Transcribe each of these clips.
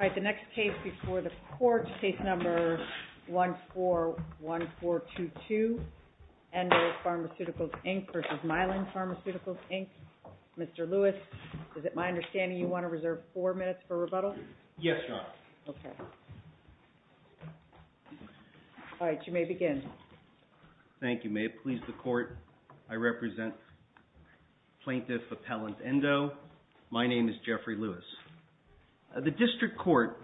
All right, the next case before the court, case number 141422, Endo Pharmaceuticals Inc. v. Mylan Pharmaceuticals Inc. Mr. Lewis, is it my understanding you want to reserve four minutes for rebuttal? Yes, Your Honor. Okay. All right, you may begin. Thank you, ma'am. Please, the court, I represent Plaintiff Appellant Endo. My name is Jeffrey Lewis. The district court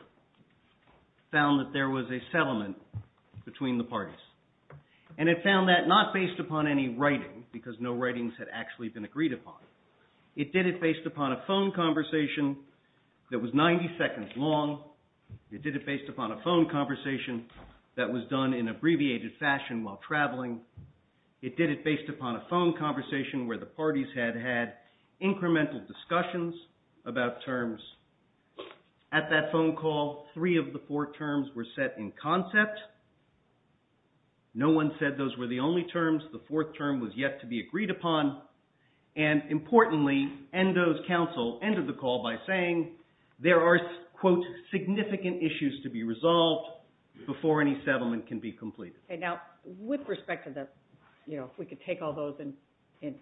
found that there was a settlement between the parties, and it found that not based upon any writing, because no writings had actually been agreed upon. It did it based upon a phone conversation that was 90 seconds long. It did it based upon a phone conversation that was done in abbreviated fashion while traveling. It did it based upon a phone conversation where the parties had had incremental discussions about terms. At that phone call, three of the four terms were set in concept. No one said those were the only terms. The fourth term was yet to be agreed upon. And importantly, Endo's counsel ended the call by saying there are, quote, significant issues to be resolved before any settlement can be completed. Okay, now, with respect to the, you know, if we could take all those in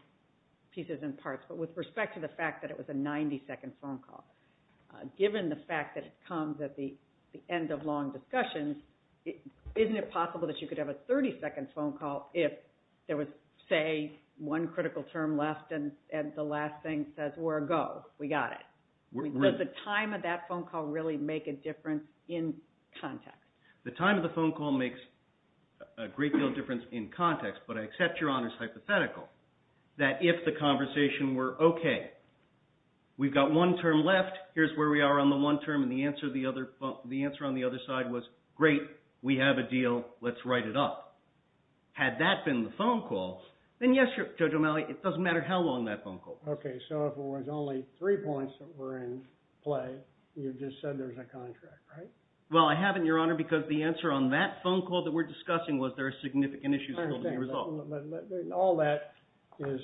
pieces and parts, but with respect to the fact that it was a 90-second phone call, given the fact that it comes at the end of long discussions, isn't it possible that you could have a 30-second phone call if there was, say, one critical term left and the last thing says, we're a go, we got it? Does the time of that phone call really make a difference in context? The time of the phone call makes a great deal of difference in context, but I accept Your Honor's hypothetical that if the conversation were, okay, we've got one term left, here's where we are on the one term, and the answer on the other side was, great, we have a deal, let's write it up. Had that been the phone call, then yes, Judge O'Malley, it doesn't matter how long that phone call was. Okay, so if it was only three points that were in play, you've just said there's a contract, right? Well, I haven't, Your Honor, because the answer on that phone call that we're discussing was there are significant issues still to be resolved. I understand, but all that is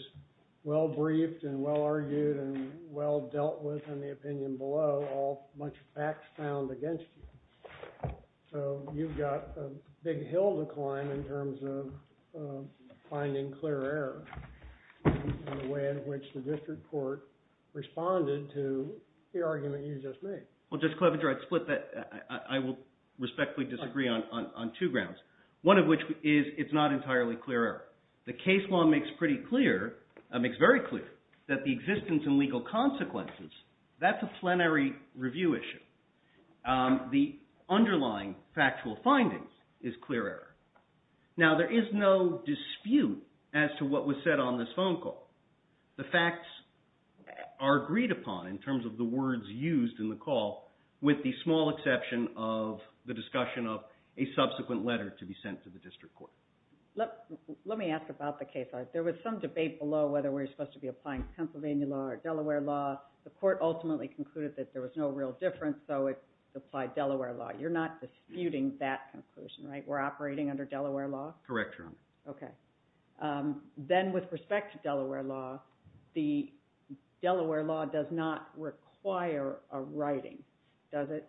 well-briefed and well-argued and well-dealt with in the opinion below, all much facts found against you. So you've got a big hill to climb in terms of finding clear error in the way in which the district court responded to the argument you just made. Well, Judge Clevenger, I'd split that. I will respectfully disagree on two grounds, one of which is it's not entirely clear error. The case law makes pretty clear, makes very clear, that the existence and legal consequences, that's a plenary review issue. The underlying factual findings is clear error. Now, there is no dispute as to what was said on this phone call. The facts are agreed upon in terms of the words used in the call, with the small exception of the discussion of a subsequent letter to be sent to the district court. Let me ask about the case law. There was some debate below whether we were supposed to be applying Pennsylvania law or Delaware law. The court ultimately concluded that there was no real difference, so it applied Delaware law. You're not disputing that conclusion, right? We're operating under Delaware law? Correct, Your Honor. Okay. Then with respect to Delaware law, the Delaware law does not require a writing, does it?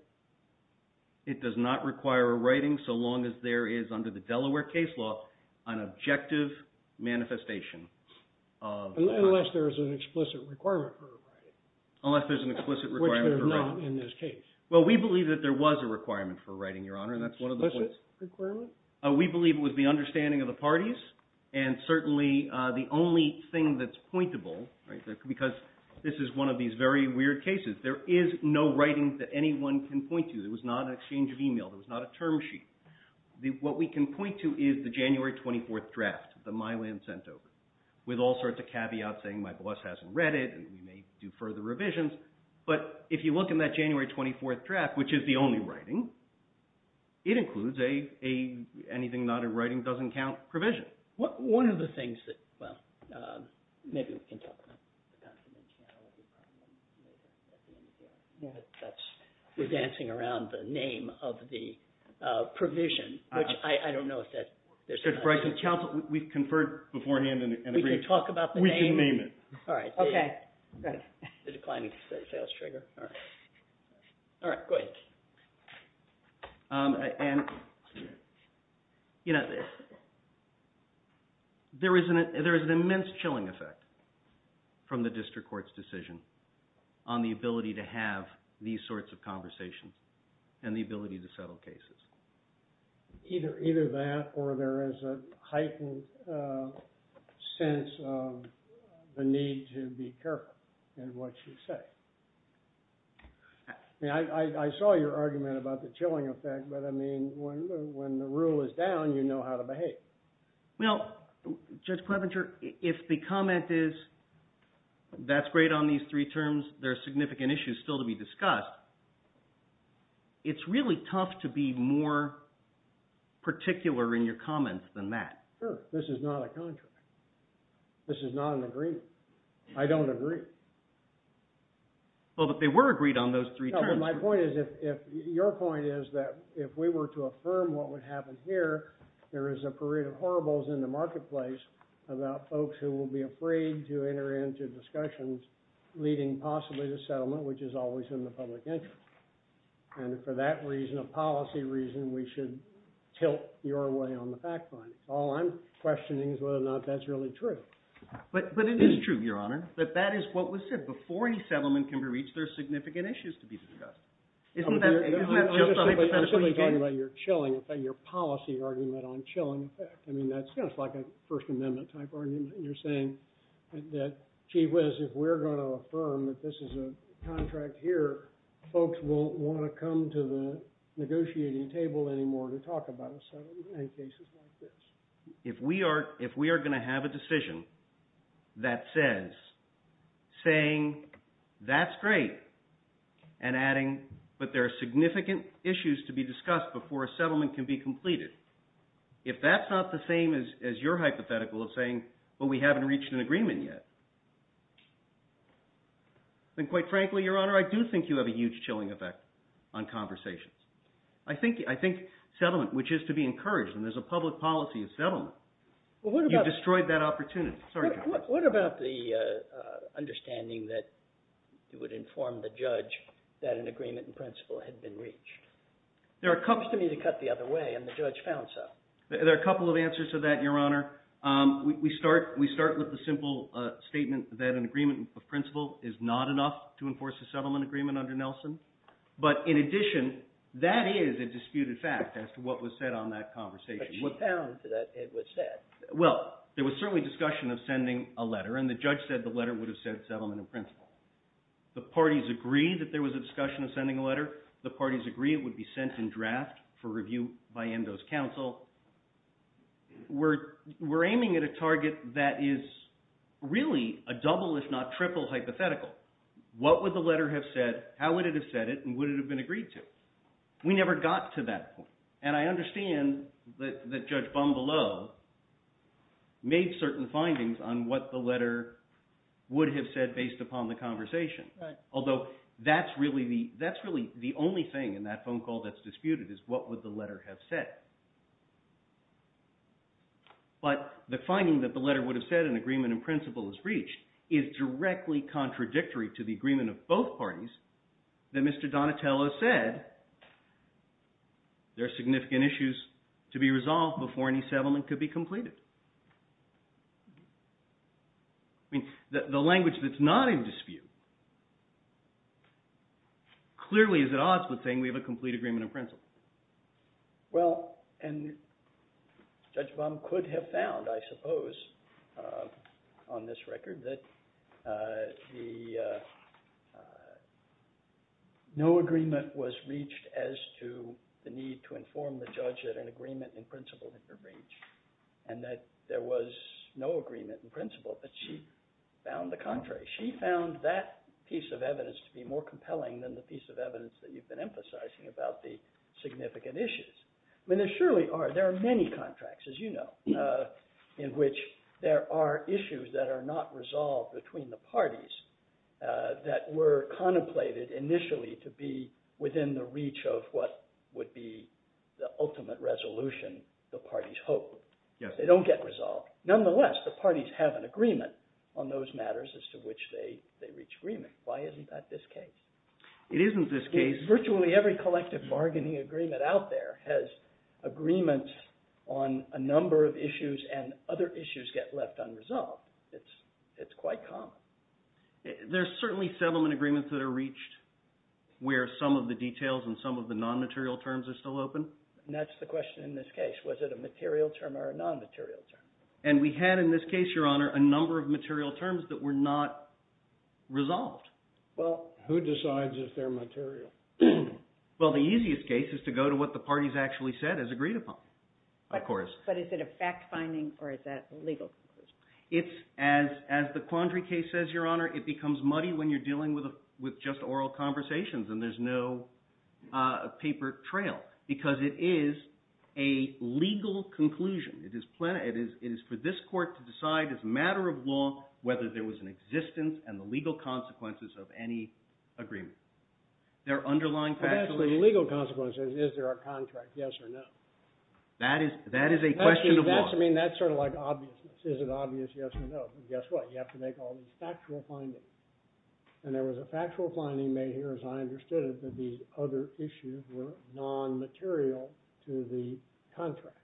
It does not require a writing so long as there is under the Delaware case law an objective manifestation of... Unless there is an explicit requirement for writing. Unless there's an explicit requirement for writing. Which there's not in this case. Well, we believe that there was a requirement for writing, Your Honor, and that's one of the points... Explicit requirement? We believe it was the understanding of the parties, and certainly the only thing that's pointable, because this is one of these very weird cases, there is no writing that anyone can point to. There was not an exchange of email. There was not a term sheet. What we can point to is the January 24th draft that Mylan sent over, with all sorts of caveats saying my boss hasn't read it and we may do further revisions, but if you look in that January 24th draft, which is the only writing, it includes anything not in writing doesn't count provision. One of the things that, well, maybe we can talk about... We're dancing around the name of the provision, which I don't know if that... Judge Breyer, we've conferred beforehand and agreed... We can talk about the name? We can name it. All right. Okay. And, you know, there is an immense chilling effect from the district court's decision on the ability to have these sorts of conversations and the ability to settle cases. Either that or there is a heightened sense of the need to be careful in what you say. I saw your argument about the chilling effect, but, I mean, when the rule is down, you know how to behave. Well, Judge Clevenger, if the comment is that's great on these three terms, there are significant issues still to be discussed, it's really tough to be more particular in your comments than that. Sure. This is not a contract. This is not an agreement. I don't agree. Well, but they were agreed on those three terms. No, but my point is if... Your point is that if we were to affirm what would happen here, there is a parade of horribles in the marketplace about folks who will be afraid to enter into discussions leading possibly to settlement, which is always in the public interest. And for that reason, a policy reason, we should tilt your way on the fact findings. All I'm questioning is whether or not that's really true. But it is true, Your Honor, that that is what was said. Before any settlement can be reached, there are significant issues to be discussed. Isn't that... I'm simply talking about your chilling effect, your policy argument on chilling effect. I mean, that's kind of like a First Amendment type argument. You're saying that, gee whiz, if we're going to affirm that this is a contract here, folks won't want to come to the negotiating table anymore to talk about a settlement in cases like this. If we are going to have a decision that says, saying, that's great, and adding, but there are significant issues to be discussed before a settlement can be completed, if that's not the same as your hypothetical of saying, well, we haven't reached an agreement yet, then quite frankly, Your Honor, I do think you have a huge chilling effect on conversations. I think settlement, which is to be encouraged, and there's a public policy of settlement, you've destroyed that opportunity. What about the understanding that it would inform the judge that an agreement in principle had been reached? It seems to me to cut the other way, and the judge found so. There are a couple of answers to that, Your Honor. We start with the simple statement that an agreement in principle is not enough to enforce a settlement agreement under Nelson. But in addition, that is a disputed fact as to what was said on that conversation. But you found that it was said. Well, there was certainly discussion of sending a letter, and the judge said the letter would have said settlement in principle. The parties agreed that there was a discussion of sending a letter. The parties agreed it would be sent in draft for review by Endo's counsel. We're aiming at a target that is really a double if not triple hypothetical. What would the letter have said, how would it have said it, and would it have been agreed to? We never got to that point. And I understand that Judge Bumbelow made certain findings on what the letter would have said based upon the conversation. Although that's really the only thing in that phone call that's disputed is what would the letter have said. But the finding that the letter would have said an agreement in principle is reached is directly contradictory to the agreement of both parties that Mr. Donatello said there are significant issues to be resolved before any settlement could be completed. The language that's not in dispute clearly is at odds with saying we have a complete agreement in principle. Well, and Judge Bum could have found, I suppose, on this record that the no agreement was reached as to the need to inform the judge that an agreement in principle had been reached and that there was no agreement in principle. But she found the contrary. She found that piece of evidence to be more compelling than the piece of evidence that talked about the significant issues. I mean, there surely are. There are many contracts, as you know, in which there are issues that are not resolved between the parties that were contemplated initially to be within the reach of what would be the ultimate resolution the parties hoped. They don't get resolved. Nonetheless, the parties have an agreement on those matters as to which they reach agreement. Why isn't that this case? It isn't this case. Virtually every collective bargaining agreement out there has agreements on a number of issues and other issues get left unresolved. It's quite common. There are certainly settlement agreements that are reached where some of the details and some of the non-material terms are still open. And that's the question in this case. Was it a material term or a non-material term? And we had in this case, Your Honor, a number of material terms that were not resolved. Well, who decides if they're material? Well, the easiest case is to go to what the parties actually said as agreed upon, of course. But is it a fact-finding or is that a legal conclusion? As the Quandary case says, Your Honor, it becomes muddy when you're dealing with just oral conversations and there's no paper trail because it is a legal conclusion. It is for this court to decide as a matter of law whether there was an existence and the legal consequences of any agreement. There are underlying factually legal consequences. Is there a contract? Yes or no? That is a question of law. That's sort of like obviousness. Is it obvious? Yes or no? Guess what? You have to make all these factual findings. And there was a factual finding made here, as I understood it, that the other issues were non-material to the contract.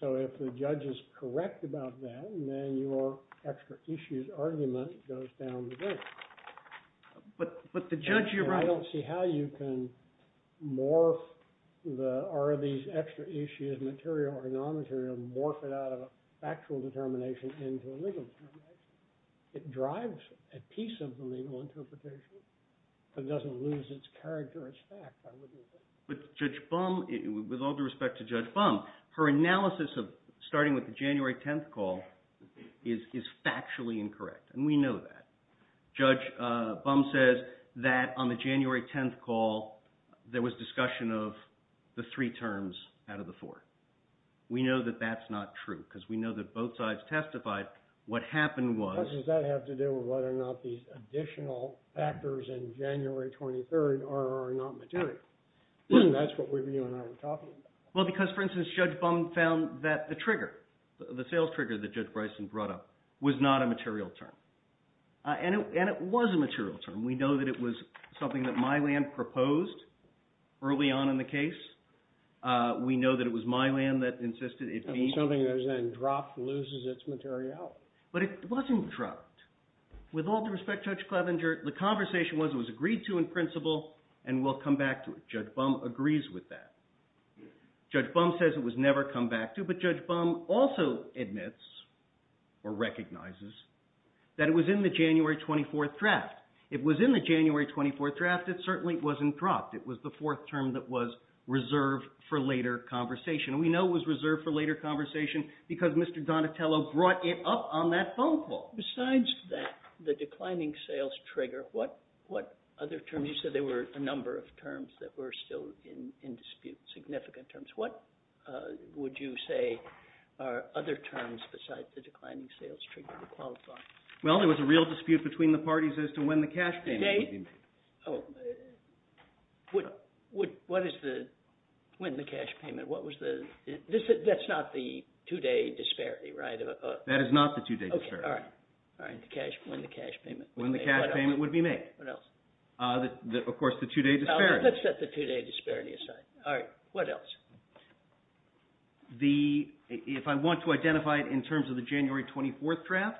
So if the judge is correct about that, then your extra issues argument goes down the drain. But the judge, Your Honor – I don't see how you can morph the, are these extra issues material or non-material, morph it out of a factual determination into a legal determination. It drives a piece of the legal interpretation. It doesn't lose its character as fact, I would think. But Judge Bum, with all due respect to Judge Bum, her analysis of starting with the January 10th call is factually incorrect, and we know that. Judge Bum says that on the January 10th call there was discussion of the three terms out of the four. We know that that's not true because we know that both sides testified. What happened was – How does that have to do with whether or not these additional factors in January 23rd are or are not material? That's what you and I are talking about. Well, because, for instance, Judge Bum found that the trigger, the sales trigger that Judge Bryson brought up, was not a material term. And it was a material term. We know that it was something that Mylan proposed early on in the case. We know that it was Mylan that insisted it be – Something that was then dropped, loses its materiality. But it wasn't dropped. With all due respect to Judge Clevenger, the conversation was it was agreed to in principle, and we'll come back to it. Judge Bum agrees with that. Judge Bum says it was never come back to, but Judge Bum also admits, or recognizes, that it was in the January 24th draft. It was in the January 24th draft. It certainly wasn't dropped. It was the fourth term that was reserved for later conversation. We know it was reserved for later conversation because Mr. Donatello brought it up on that phone call. Well, besides that, the declining sales trigger, what other terms – you said there were a number of terms that were still in dispute, significant terms. What would you say are other terms besides the declining sales trigger to qualify? Well, there was a real dispute between the parties as to when the cash payment would be made. Oh. What is the – when the cash payment? What was the – that's not the two-day disparity, right? That is not the two-day disparity. Okay, all right. All right, the cash – when the cash payment would be made. When the cash payment would be made. What else? Of course, the two-day disparity. Let's set the two-day disparity aside. All right, what else? The – if I want to identify it in terms of the January 24th draft,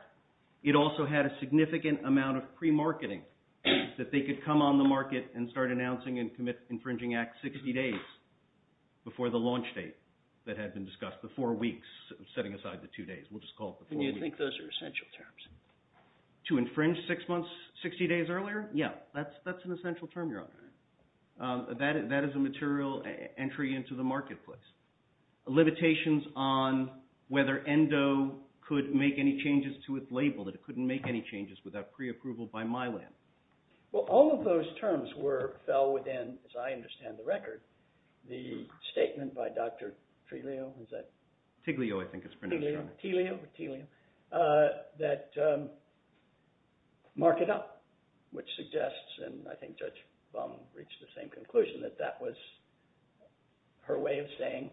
it also had a significant amount of pre-marketing that they could come on the market and start announcing and commit infringing Act 60 days before the launch date that had been discussed, the four weeks, setting aside the two days. We'll just call it the four weeks. And you think those are essential terms? To infringe six months – 60 days earlier? Yeah, that's an essential term, Your Honor. That is a material entry into the marketplace. Limitations on whether ENDO could make any changes to its label, that it couldn't make any changes without pre-approval by Mylan. Well, all of those terms were – fell within, as I understand the record, the statement by Dr. Triglio, is that – Tiglio, I think it's pronounced, Your Honor. Tiglio, T-L-I-O, T-L-I-O, that mark it up, which suggests, and I think Judge Baum reached the same conclusion, that that was her way of saying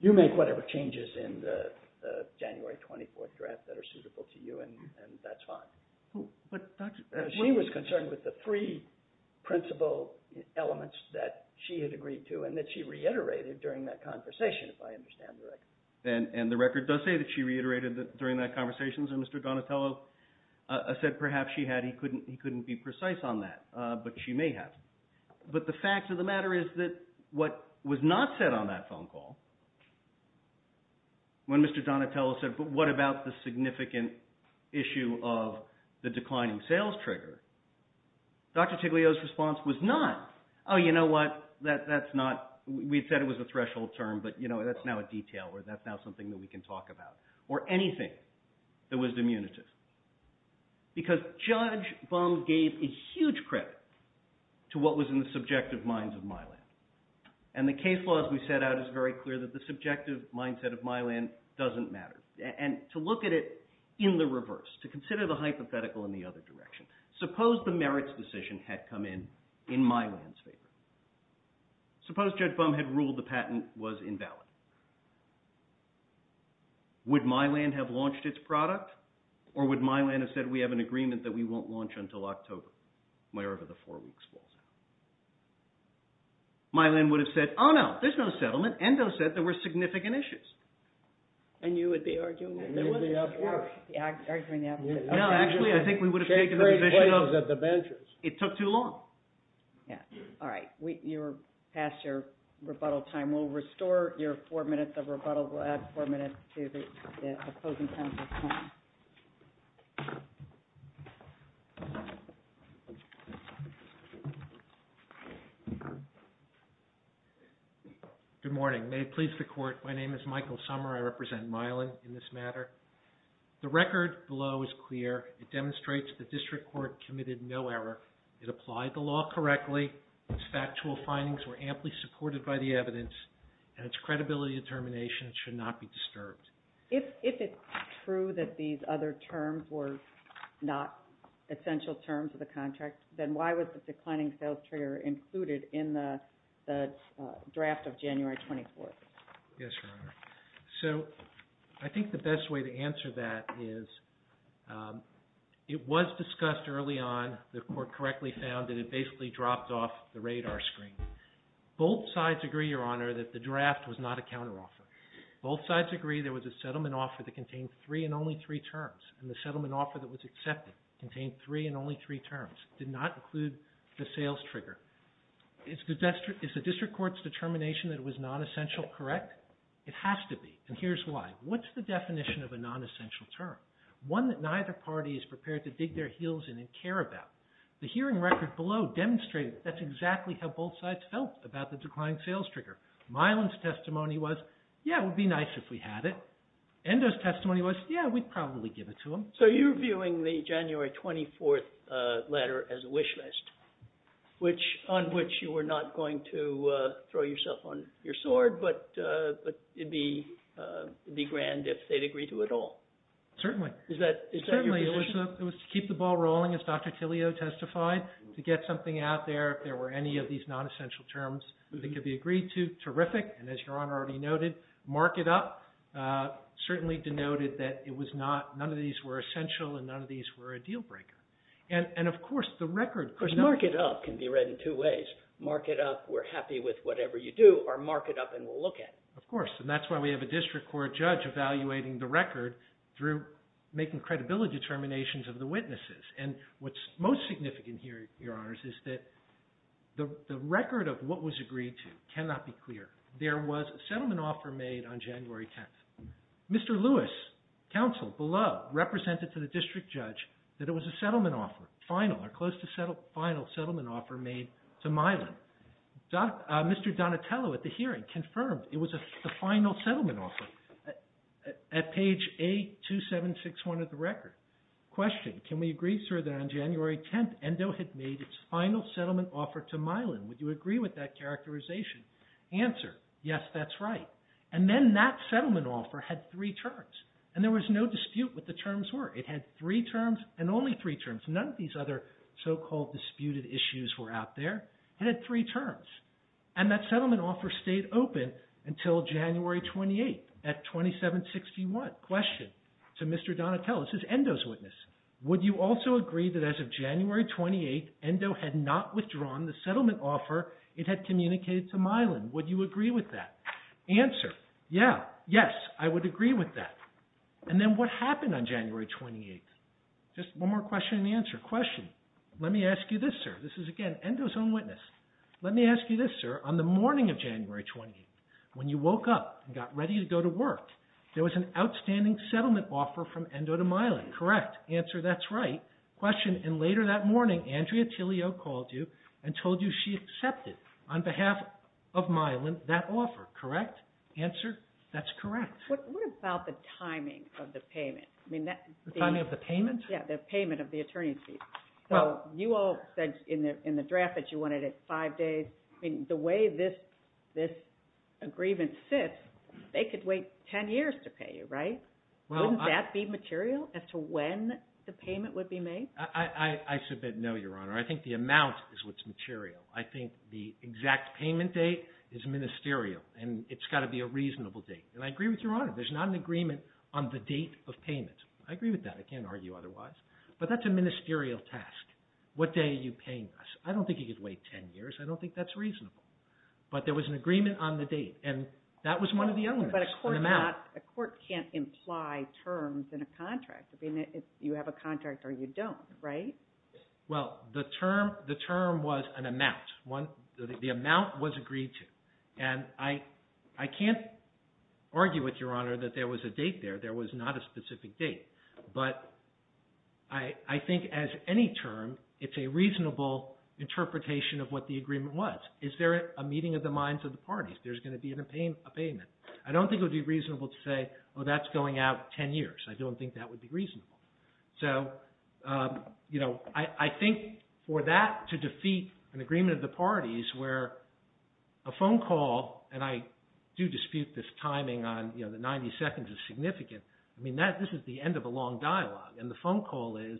you make whatever changes in the January 24th draft that are suitable to you and that's fine. But Dr. – She was concerned with the three principal elements that she had agreed to and that she reiterated during that conversation, if I understand the record. And the record does say that she reiterated during that conversation that Mr. Donatello said perhaps she had. He couldn't be precise on that, but she may have. But the fact of the matter is that what was not said on that phone call, when Mr. Donatello said, but what about the significant issue of the declining sales trigger, Dr. Triglio's response was not, oh, you know what, that's not – we had said it was a threshold term, but that's now a detail or that's now something that we can talk about, or anything that was diminutive. Because Judge Baum gave a huge credit to what was in the subjective minds of Mylan. And the case law, as we set out, is very clear that the subjective mindset of Mylan doesn't matter. And to look at it in the reverse, to consider the hypothetical in the other direction, suppose the merits decision had come in in Mylan's favor. Suppose Judge Baum had ruled the patent was invalid. Would Mylan have launched its product or would Mylan have said we have an agreement that we won't launch until October, wherever the four weeks falls out? Mylan would have said, oh, no, there's no settlement. Endo said there were significant issues. And you would be arguing that there was? Yeah, I'd be arguing the opposite. No, actually, I think we would have taken the position of it took too long. Yeah. All right. You're past your rebuttal time. We'll restore your four minutes of rebuttal. We'll add four minutes to the opposing counsel's time. Good morning. May it please the Court. My name is Michael Sommer. I represent Mylan in this matter. The record below is clear. It demonstrates the district court committed no error. It applied the law correctly. Its factual findings were amply supported by the evidence. And its credibility determination should not be disturbed. If it's true that these other terms were not essential terms of the contract, then why was the declining sales trigger included in the draft of January 24th? Yes, Your Honor. So I think the best way to answer that is it was discussed early on. The Court correctly found that it basically dropped off the radar screen. Both sides agree, Your Honor, that the draft was not a counteroffer. Both sides agree there was a settlement offer that contained three and only three terms, and the settlement offer that was accepted contained three and only three terms. It did not include the sales trigger. Is the district court's determination that it was non-essential correct? It has to be, and here's why. What's the definition of a non-essential term? One that neither party is prepared to dig their heels in and care about. The hearing record below demonstrated that's exactly how both sides felt about the declining sales trigger. Milan's testimony was, yeah, it would be nice if we had it. Endo's testimony was, yeah, we'd probably give it to them. So you're viewing the January 24th letter as a wish list, on which you were not going to throw yourself on your sword, but it'd be grand if they'd agree to it all. Certainly. Is that your position? Certainly. It was to keep the ball rolling, as Dr. Tillio testified, to get something out there. If there were any of these non-essential terms that could be agreed to, terrific, and as Your Honor already noted, mark it up, certainly denoted that none of these were essential and none of these were a deal breaker. And, of course, the record… Mark it up can be read in two ways. Mark it up, we're happy with whatever you do, or mark it up and we'll look at it. Of course, and that's why we have a district court judge evaluating the record through making credibility determinations of the witnesses. And what's most significant here, Your Honors, is that the record of what was agreed to cannot be clear. There was a settlement offer made on January 10th. Mr. Lewis, counsel below, represented to the district judge that it was a settlement offer, final or close to final settlement offer made to Milan. Mr. Donatello at the hearing confirmed it was the final settlement offer at page A2761 of the record. Question, can we agree, sir, that on January 10th, Endo had made its final settlement offer to Milan? Would you agree with that characterization? Answer, yes, that's right. And then that settlement offer had three terms. And there was no dispute what the terms were. It had three terms and only three terms. None of these other so-called disputed issues were out there. It had three terms. And that settlement offer stayed open until January 28th at 2761. Question, to Mr. Donatello, this is Endo's witness. Would you also agree that as of January 28th, Endo had not withdrawn the settlement offer it had communicated to Milan? Would you agree with that? Answer, yes, I would agree with that. And then what happened on January 28th? Just one more question and answer. Question, let me ask you this, sir. This is, again, Endo's own witness. Let me ask you this, sir. On the morning of January 28th, when you woke up and got ready to go to work, there was an outstanding settlement offer from Endo to Milan. Correct. Answer, that's right. Question, and later that morning Andrea Tillio called you and told you she accepted, on behalf of Milan, that offer. Correct. Answer, that's correct. What about the timing of the payment? The timing of the payment? Yeah, the payment of the attorney's fee. So you all said in the draft that you wanted it five days. The way this agreement sits, they could wait ten years to pay you, right? Wouldn't that be material as to when the payment would be made? I submit no, Your Honor. I think the amount is what's material. I think the exact payment date is ministerial, and it's got to be a reasonable date. And I agree with Your Honor. There's not an agreement on the date of payment. I agree with that. I can't argue otherwise. But that's a ministerial task. What day are you paying us? I don't think you could wait ten years. I don't think that's reasonable. But there was an agreement on the date, and that was one of the elements. But a court can't imply terms in a contract. You have a contract or you don't, right? Well, the term was an amount. The amount was agreed to. And I can't argue with Your Honor that there was a date there. There was not a specific date. But I think as any term, it's a reasonable interpretation of what the agreement was. Is there a meeting of the minds of the parties? There's going to be a payment. I don't think it would be reasonable to say, oh, that's going out ten years. I don't think that would be reasonable. So I think for that to defeat an agreement of the parties where a phone call, and I do dispute this timing on the 90 seconds is significant. I mean, this is the end of a long dialogue. And the phone call is,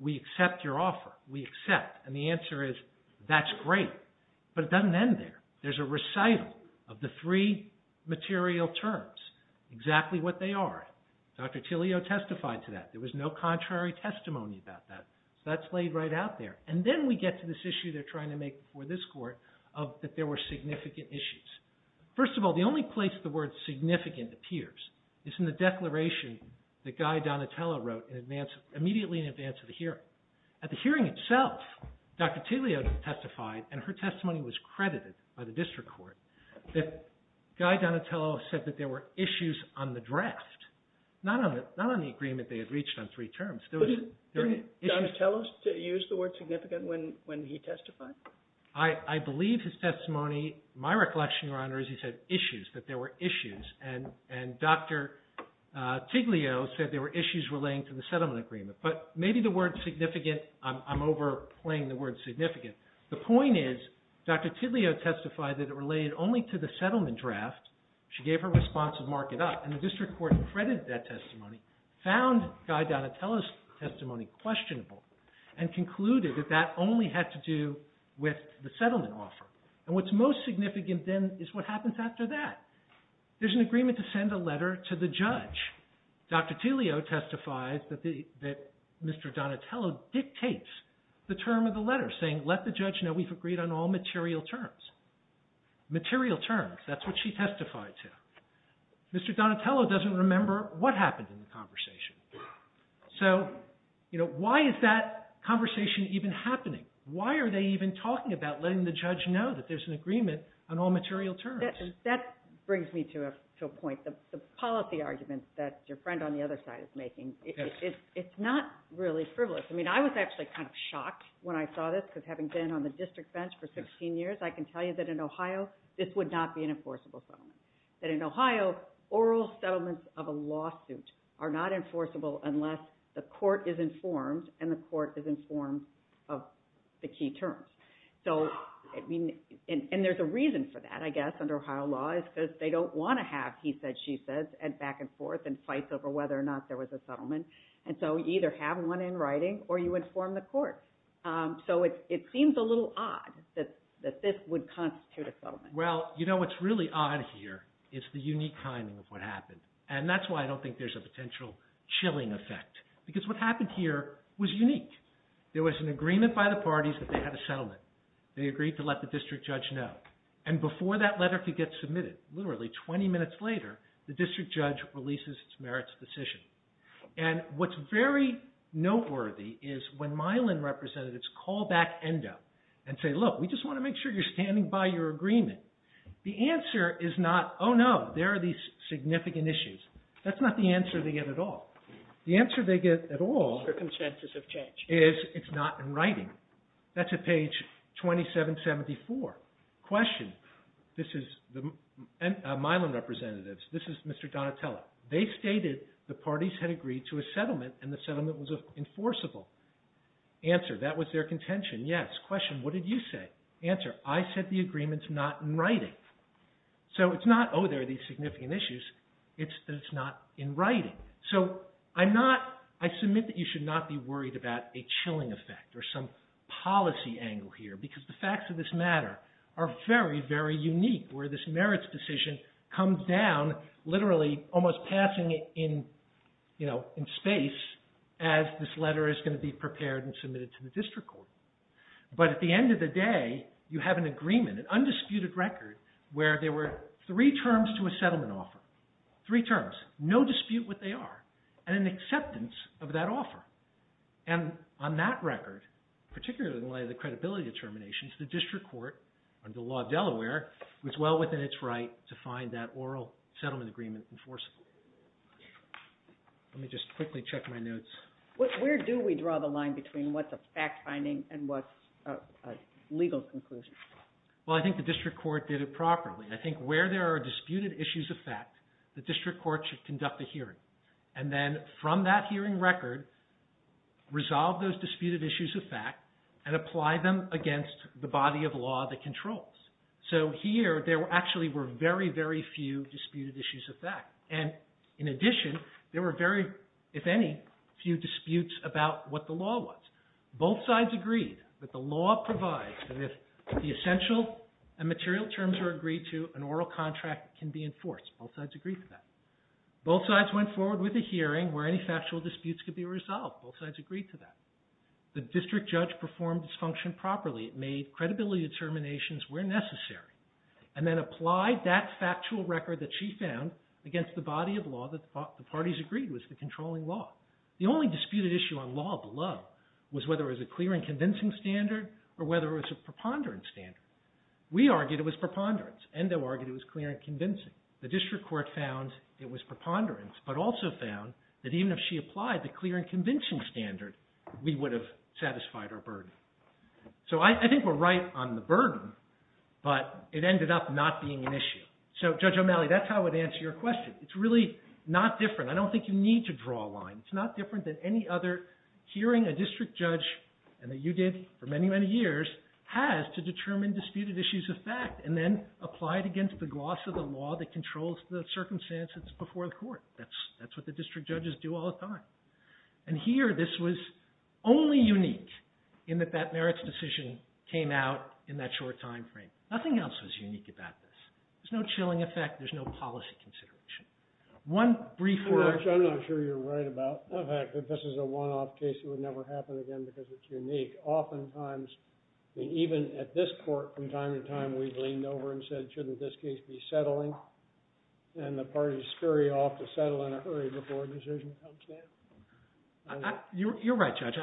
we accept your offer. We accept. And the answer is, that's great. But it doesn't end there. There's a recital of the three material terms, exactly what they are. Dr. Tillio testified to that. There was no contrary testimony about that. So that's laid right out there. And then we get to this issue they're trying to make before this court of that there were significant issues. First of all, the only place the word significant appears is in the declaration that Guy Donatello wrote immediately in advance of the hearing. At the hearing itself, Dr. Tillio testified, and her testimony was credited by the district court, that Guy Donatello said that there were issues on the draft, not on the agreement they had reached on three terms. Didn't Donatello use the word significant when he testified? I believe his testimony, my recollection, Your Honor, is he said issues, that there were issues. And Dr. Tillio said there were issues relating to the settlement agreement. But maybe the word significant, I'm overplaying the word significant. The point is, Dr. Tillio testified that it related only to the settlement draft. She gave her response to mark it up. And the district court credited that testimony, found Guy Donatello's testimony questionable, and concluded that that only had to do with the settlement offer. And what's most significant then is what happens after that. There's an agreement to send a letter to the judge. Dr. Tillio testifies that Mr. Donatello dictates the term of the letter, saying let the judge know we've agreed on all material terms. Material terms, that's what she testified to. Mr. Donatello doesn't remember what happened in the conversation. So, you know, why is that conversation even happening? Why are they even talking about letting the judge know that there's an agreement on all material terms? That brings me to a point. The policy argument that your friend on the other side is making, it's not really frivolous. I mean, I was actually kind of shocked when I saw this, because having been on the district bench for 16 years, I can tell you that in Ohio this would not be an enforceable settlement. That in Ohio, oral settlements of a lawsuit are not enforceable unless the court is informed and the court is informed of the key terms. And there's a reason for that, I guess, under Ohio law, is because they don't want to have he says, she says, and back and forth and fights over whether or not there was a settlement. And so you either have one in writing or you inform the court. So it seems a little odd that this would constitute a settlement. Well, you know what's really odd here is the unique timing of what happened. And that's why I don't think there's a potential chilling effect, because what happened here was unique. There was an agreement by the parties that they had a settlement. They agreed to let the district judge know. And before that letter could get submitted, literally 20 minutes later, the district judge releases its merits decision. And what's very noteworthy is when Milan representatives call back ENDO and say, look, we just want to make sure you're standing by your agreement. The answer is not, oh, no, there are these significant issues. That's not the answer they get at all. The answer they get at all is it's not in writing. That's at page 2774. Question. This is Milan representatives. This is Mr. Donatella. They stated the parties had agreed to a settlement and the settlement was enforceable. Answer. That was their contention. Yes. Question. What did you say? Answer. I said the agreement's not in writing. So it's not, oh, there are these significant issues. It's that it's not in writing. So I'm not, I submit that you should not be worried about a chilling effect or some policy angle here because the facts of this matter are very, very unique where this merits decision comes down literally almost passing in, you know, in space as this letter is going to be prepared and submitted to the district court. But at the end of the day, you have an agreement, an undisputed record where there were three terms to a settlement offer. Three terms. No dispute what they are and an acceptance of that offer. And on that record, particularly in light of the credibility determinations, the district court under the law of Delaware was well within its right to find that oral settlement agreement enforceable. Let me just quickly check my notes. Where do we draw the line between what's a fact finding and what's a legal conclusion? Well, I think the district court did it properly. I think where there are disputed issues of fact, the district court should conduct a hearing. And then from that hearing record, resolve those disputed issues of fact and apply them against the body of law that controls. So here there actually were very, very few disputed issues of fact. And in addition, there were very, if any, few disputes about what the law was. Both sides agreed that the law provides that if the essential and material terms are agreed to, an oral contract can be enforced. Both sides agreed to that. Both sides went forward with a hearing where any factual disputes could be resolved. Both sides agreed to that. The district judge performed its function properly. It made credibility determinations where necessary and then applied that factual record that she found against the body of law that the parties agreed was the controlling law. The only disputed issue on law below was whether it was a clear and convincing standard or whether it was a preponderant standard. We argued it was preponderance. Endo argued it was clear and convincing. The district court found it was preponderance but also found that even if she applied the clear and convincing standard, we would have satisfied our burden. So I think we're right on the burden, but it ended up not being an issue. So Judge O'Malley, that's how I would answer your question. It's really not different. I don't think you need to draw a line. It's not different than any other hearing a district judge, and that you did for many, many years, has to determine disputed issues of fact and then apply it against the gloss of the law that controls the circumstances before the court. That's what the district judges do all the time. And here this was only unique in that that merits decision came out in that short time frame. Nothing else was unique about this. There's no chilling effect. There's no policy consideration. One brief word. Judge, I'm not sure you're right about the fact that this is a one-off case that would never happen again because it's unique. Oftentimes, even at this court, from time to time, we've leaned over and said, shouldn't this case be settling? And the parties scurry off to settle in a hurry before a decision comes down. You're right, Judge.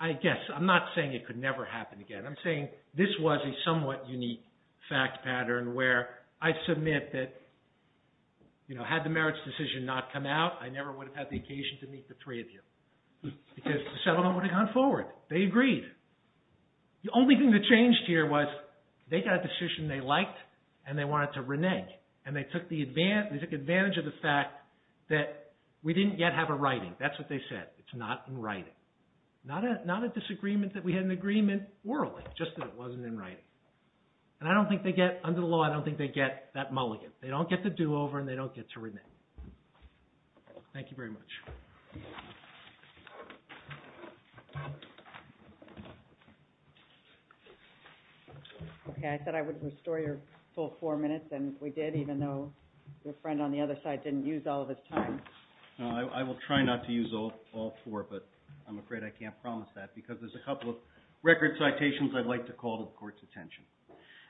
I guess. I'm not saying it could never happen again. I'm saying this was a somewhat unique fact pattern where I submit that, you know, had the merits decision not come out, I never would have had the occasion to meet the three of you because the settlement would have gone forward. They agreed. The only thing that changed here was they got a decision they liked and they wanted to renege. And they took advantage of the fact that we didn't yet have a writing. That's what they said. It's not in writing. Not a disagreement that we had an agreement orally, just that it wasn't in writing. And under the law, I don't think they get that mulligan. They don't get the do-over and they don't get to renege. Thank you very much. Okay. I said I would restore your full four minutes, and we did even though your friend on the other side didn't use all of his time. No, I will try not to use all four, but I'm afraid I can't promise that because there's a couple of record citations I'd like to call to the Court's attention.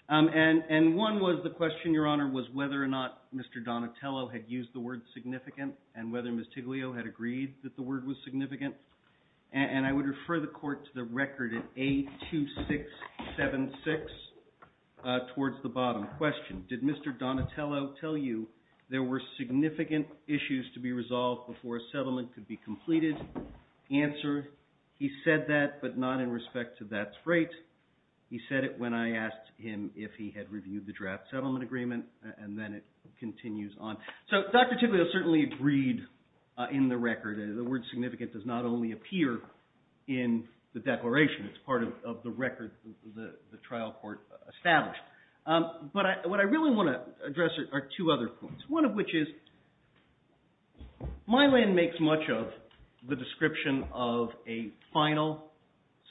And one was the question, Your Honor, was whether or not Mr. Donatello had used the word significant and whether Ms. Tiglio had agreed that the word was significant. And I would refer the Court to the record at 82676 towards the bottom question. Did Mr. Donatello tell you there were significant issues to be resolved before a settlement could be completed? Answer, he said that, but not in respect to that freight. He said it when I asked him if he had reviewed the draft settlement agreement, and then it continues on. So Dr. Tiglio certainly agreed in the record. The word significant does not only appear in the declaration. It's part of the record the trial court established. But what I really want to address are two other points, one of which is Mylan makes much of the description of a final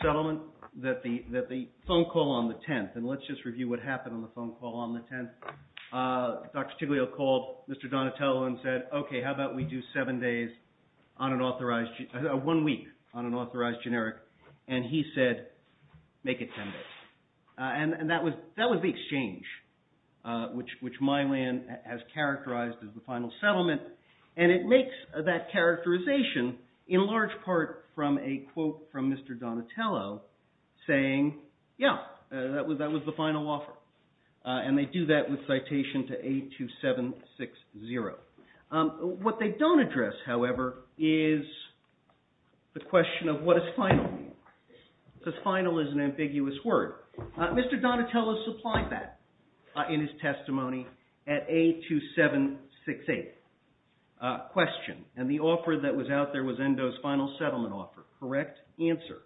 settlement that the phone call on the 10th, and let's just review what happened on the phone call on the 10th. Dr. Tiglio called Mr. Donatello and said, okay, how about we do one week on an authorized generic? And he said, make it 10 days. And that was the exchange which Mylan has characterized as the final settlement. And it makes that characterization in large part from a quote from Mr. Donatello saying, yeah, that was the final offer. And they do that with citation to 82760. What they don't address, however, is the question of what does final mean? Because final is an ambiguous word. Mr. Donatello supplied that in his testimony at 82768. Question, and the offer that was out there was Endo's final settlement offer. Correct answer,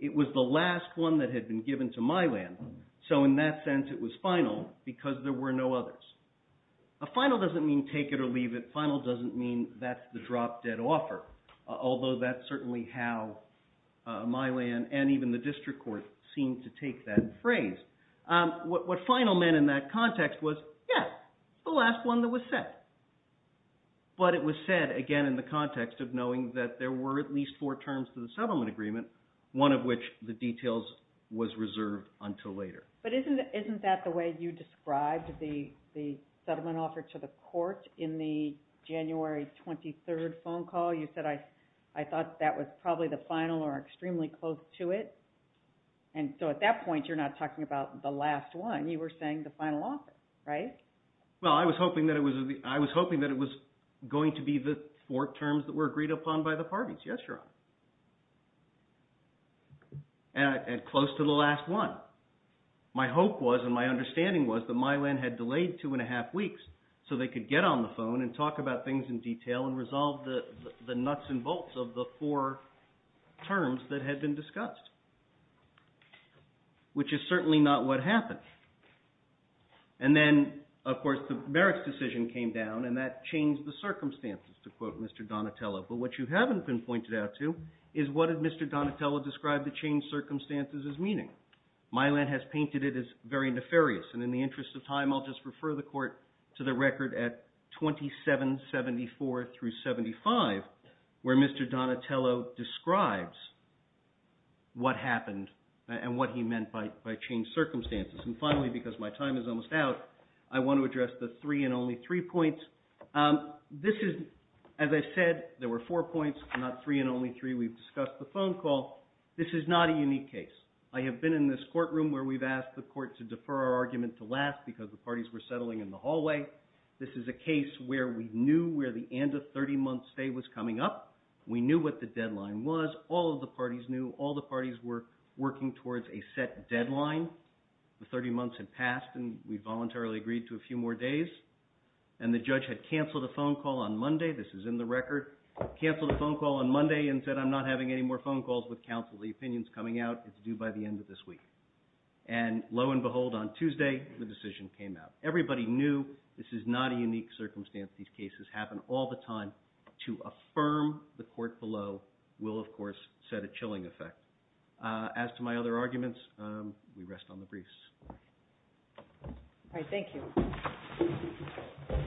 it was the last one that had been given to Mylan, so in that sense it was final because there were no others. A final doesn't mean take it or leave it. Final doesn't mean that's the drop-dead offer, although that's certainly how Mylan and even the district court seemed to take that phrase. What final meant in that context was, yes, the last one that was set. But it was said, again, in the context of knowing that there were at least four terms to the settlement agreement, one of which the details was reserved until later. But isn't that the way you described the settlement offer to the court in the January 23rd phone call? You said, I thought that was probably the final or extremely close to it. And so at that point you're not talking about the last one. You were saying the final offer, right? Well, I was hoping that it was going to be the four terms that were agreed upon by the parties. Yes, Your Honor. And close to the last one. My hope was and my understanding was that Mylan had delayed two and a half weeks so they could get on the phone and talk about things in detail and resolve the nuts and bolts of the four terms that had been discussed, which is certainly not what happened. And then, of course, the merits decision came down, and that changed the circumstances, to quote Mr. Donatello. But what you haven't been pointed out to is what did Mr. Donatello describe the changed circumstances as meaning. Mylan has painted it as very nefarious. And in the interest of time, I'll just refer the court to the record at 2774 through 75, where Mr. Donatello describes what happened and what he meant by changed circumstances. And finally, because my time is almost out, I want to address the three and only three points. This is, as I said, there were four points, not three and only three. We've discussed the phone call. This is not a unique case. I have been in this courtroom where we've asked the court to defer our argument to last because the parties were settling in the hallway. This is a case where we knew where the end of 30-month stay was coming up. We knew what the deadline was. All of the parties knew. All the parties were working towards a set deadline. The 30 months had passed, and we voluntarily agreed to a few more days. And the judge had canceled a phone call on Monday. This is in the record. Canceled a phone call on Monday and said, I'm not having any more phone calls with counsel. The opinion is coming out. It's due by the end of this week. And lo and behold, on Tuesday, the decision came out. Everybody knew this is not a unique circumstance. These cases happen all the time. To affirm the court below will, of course, set a chilling effect. As to my other arguments, we rest on the briefs. All right, thank you.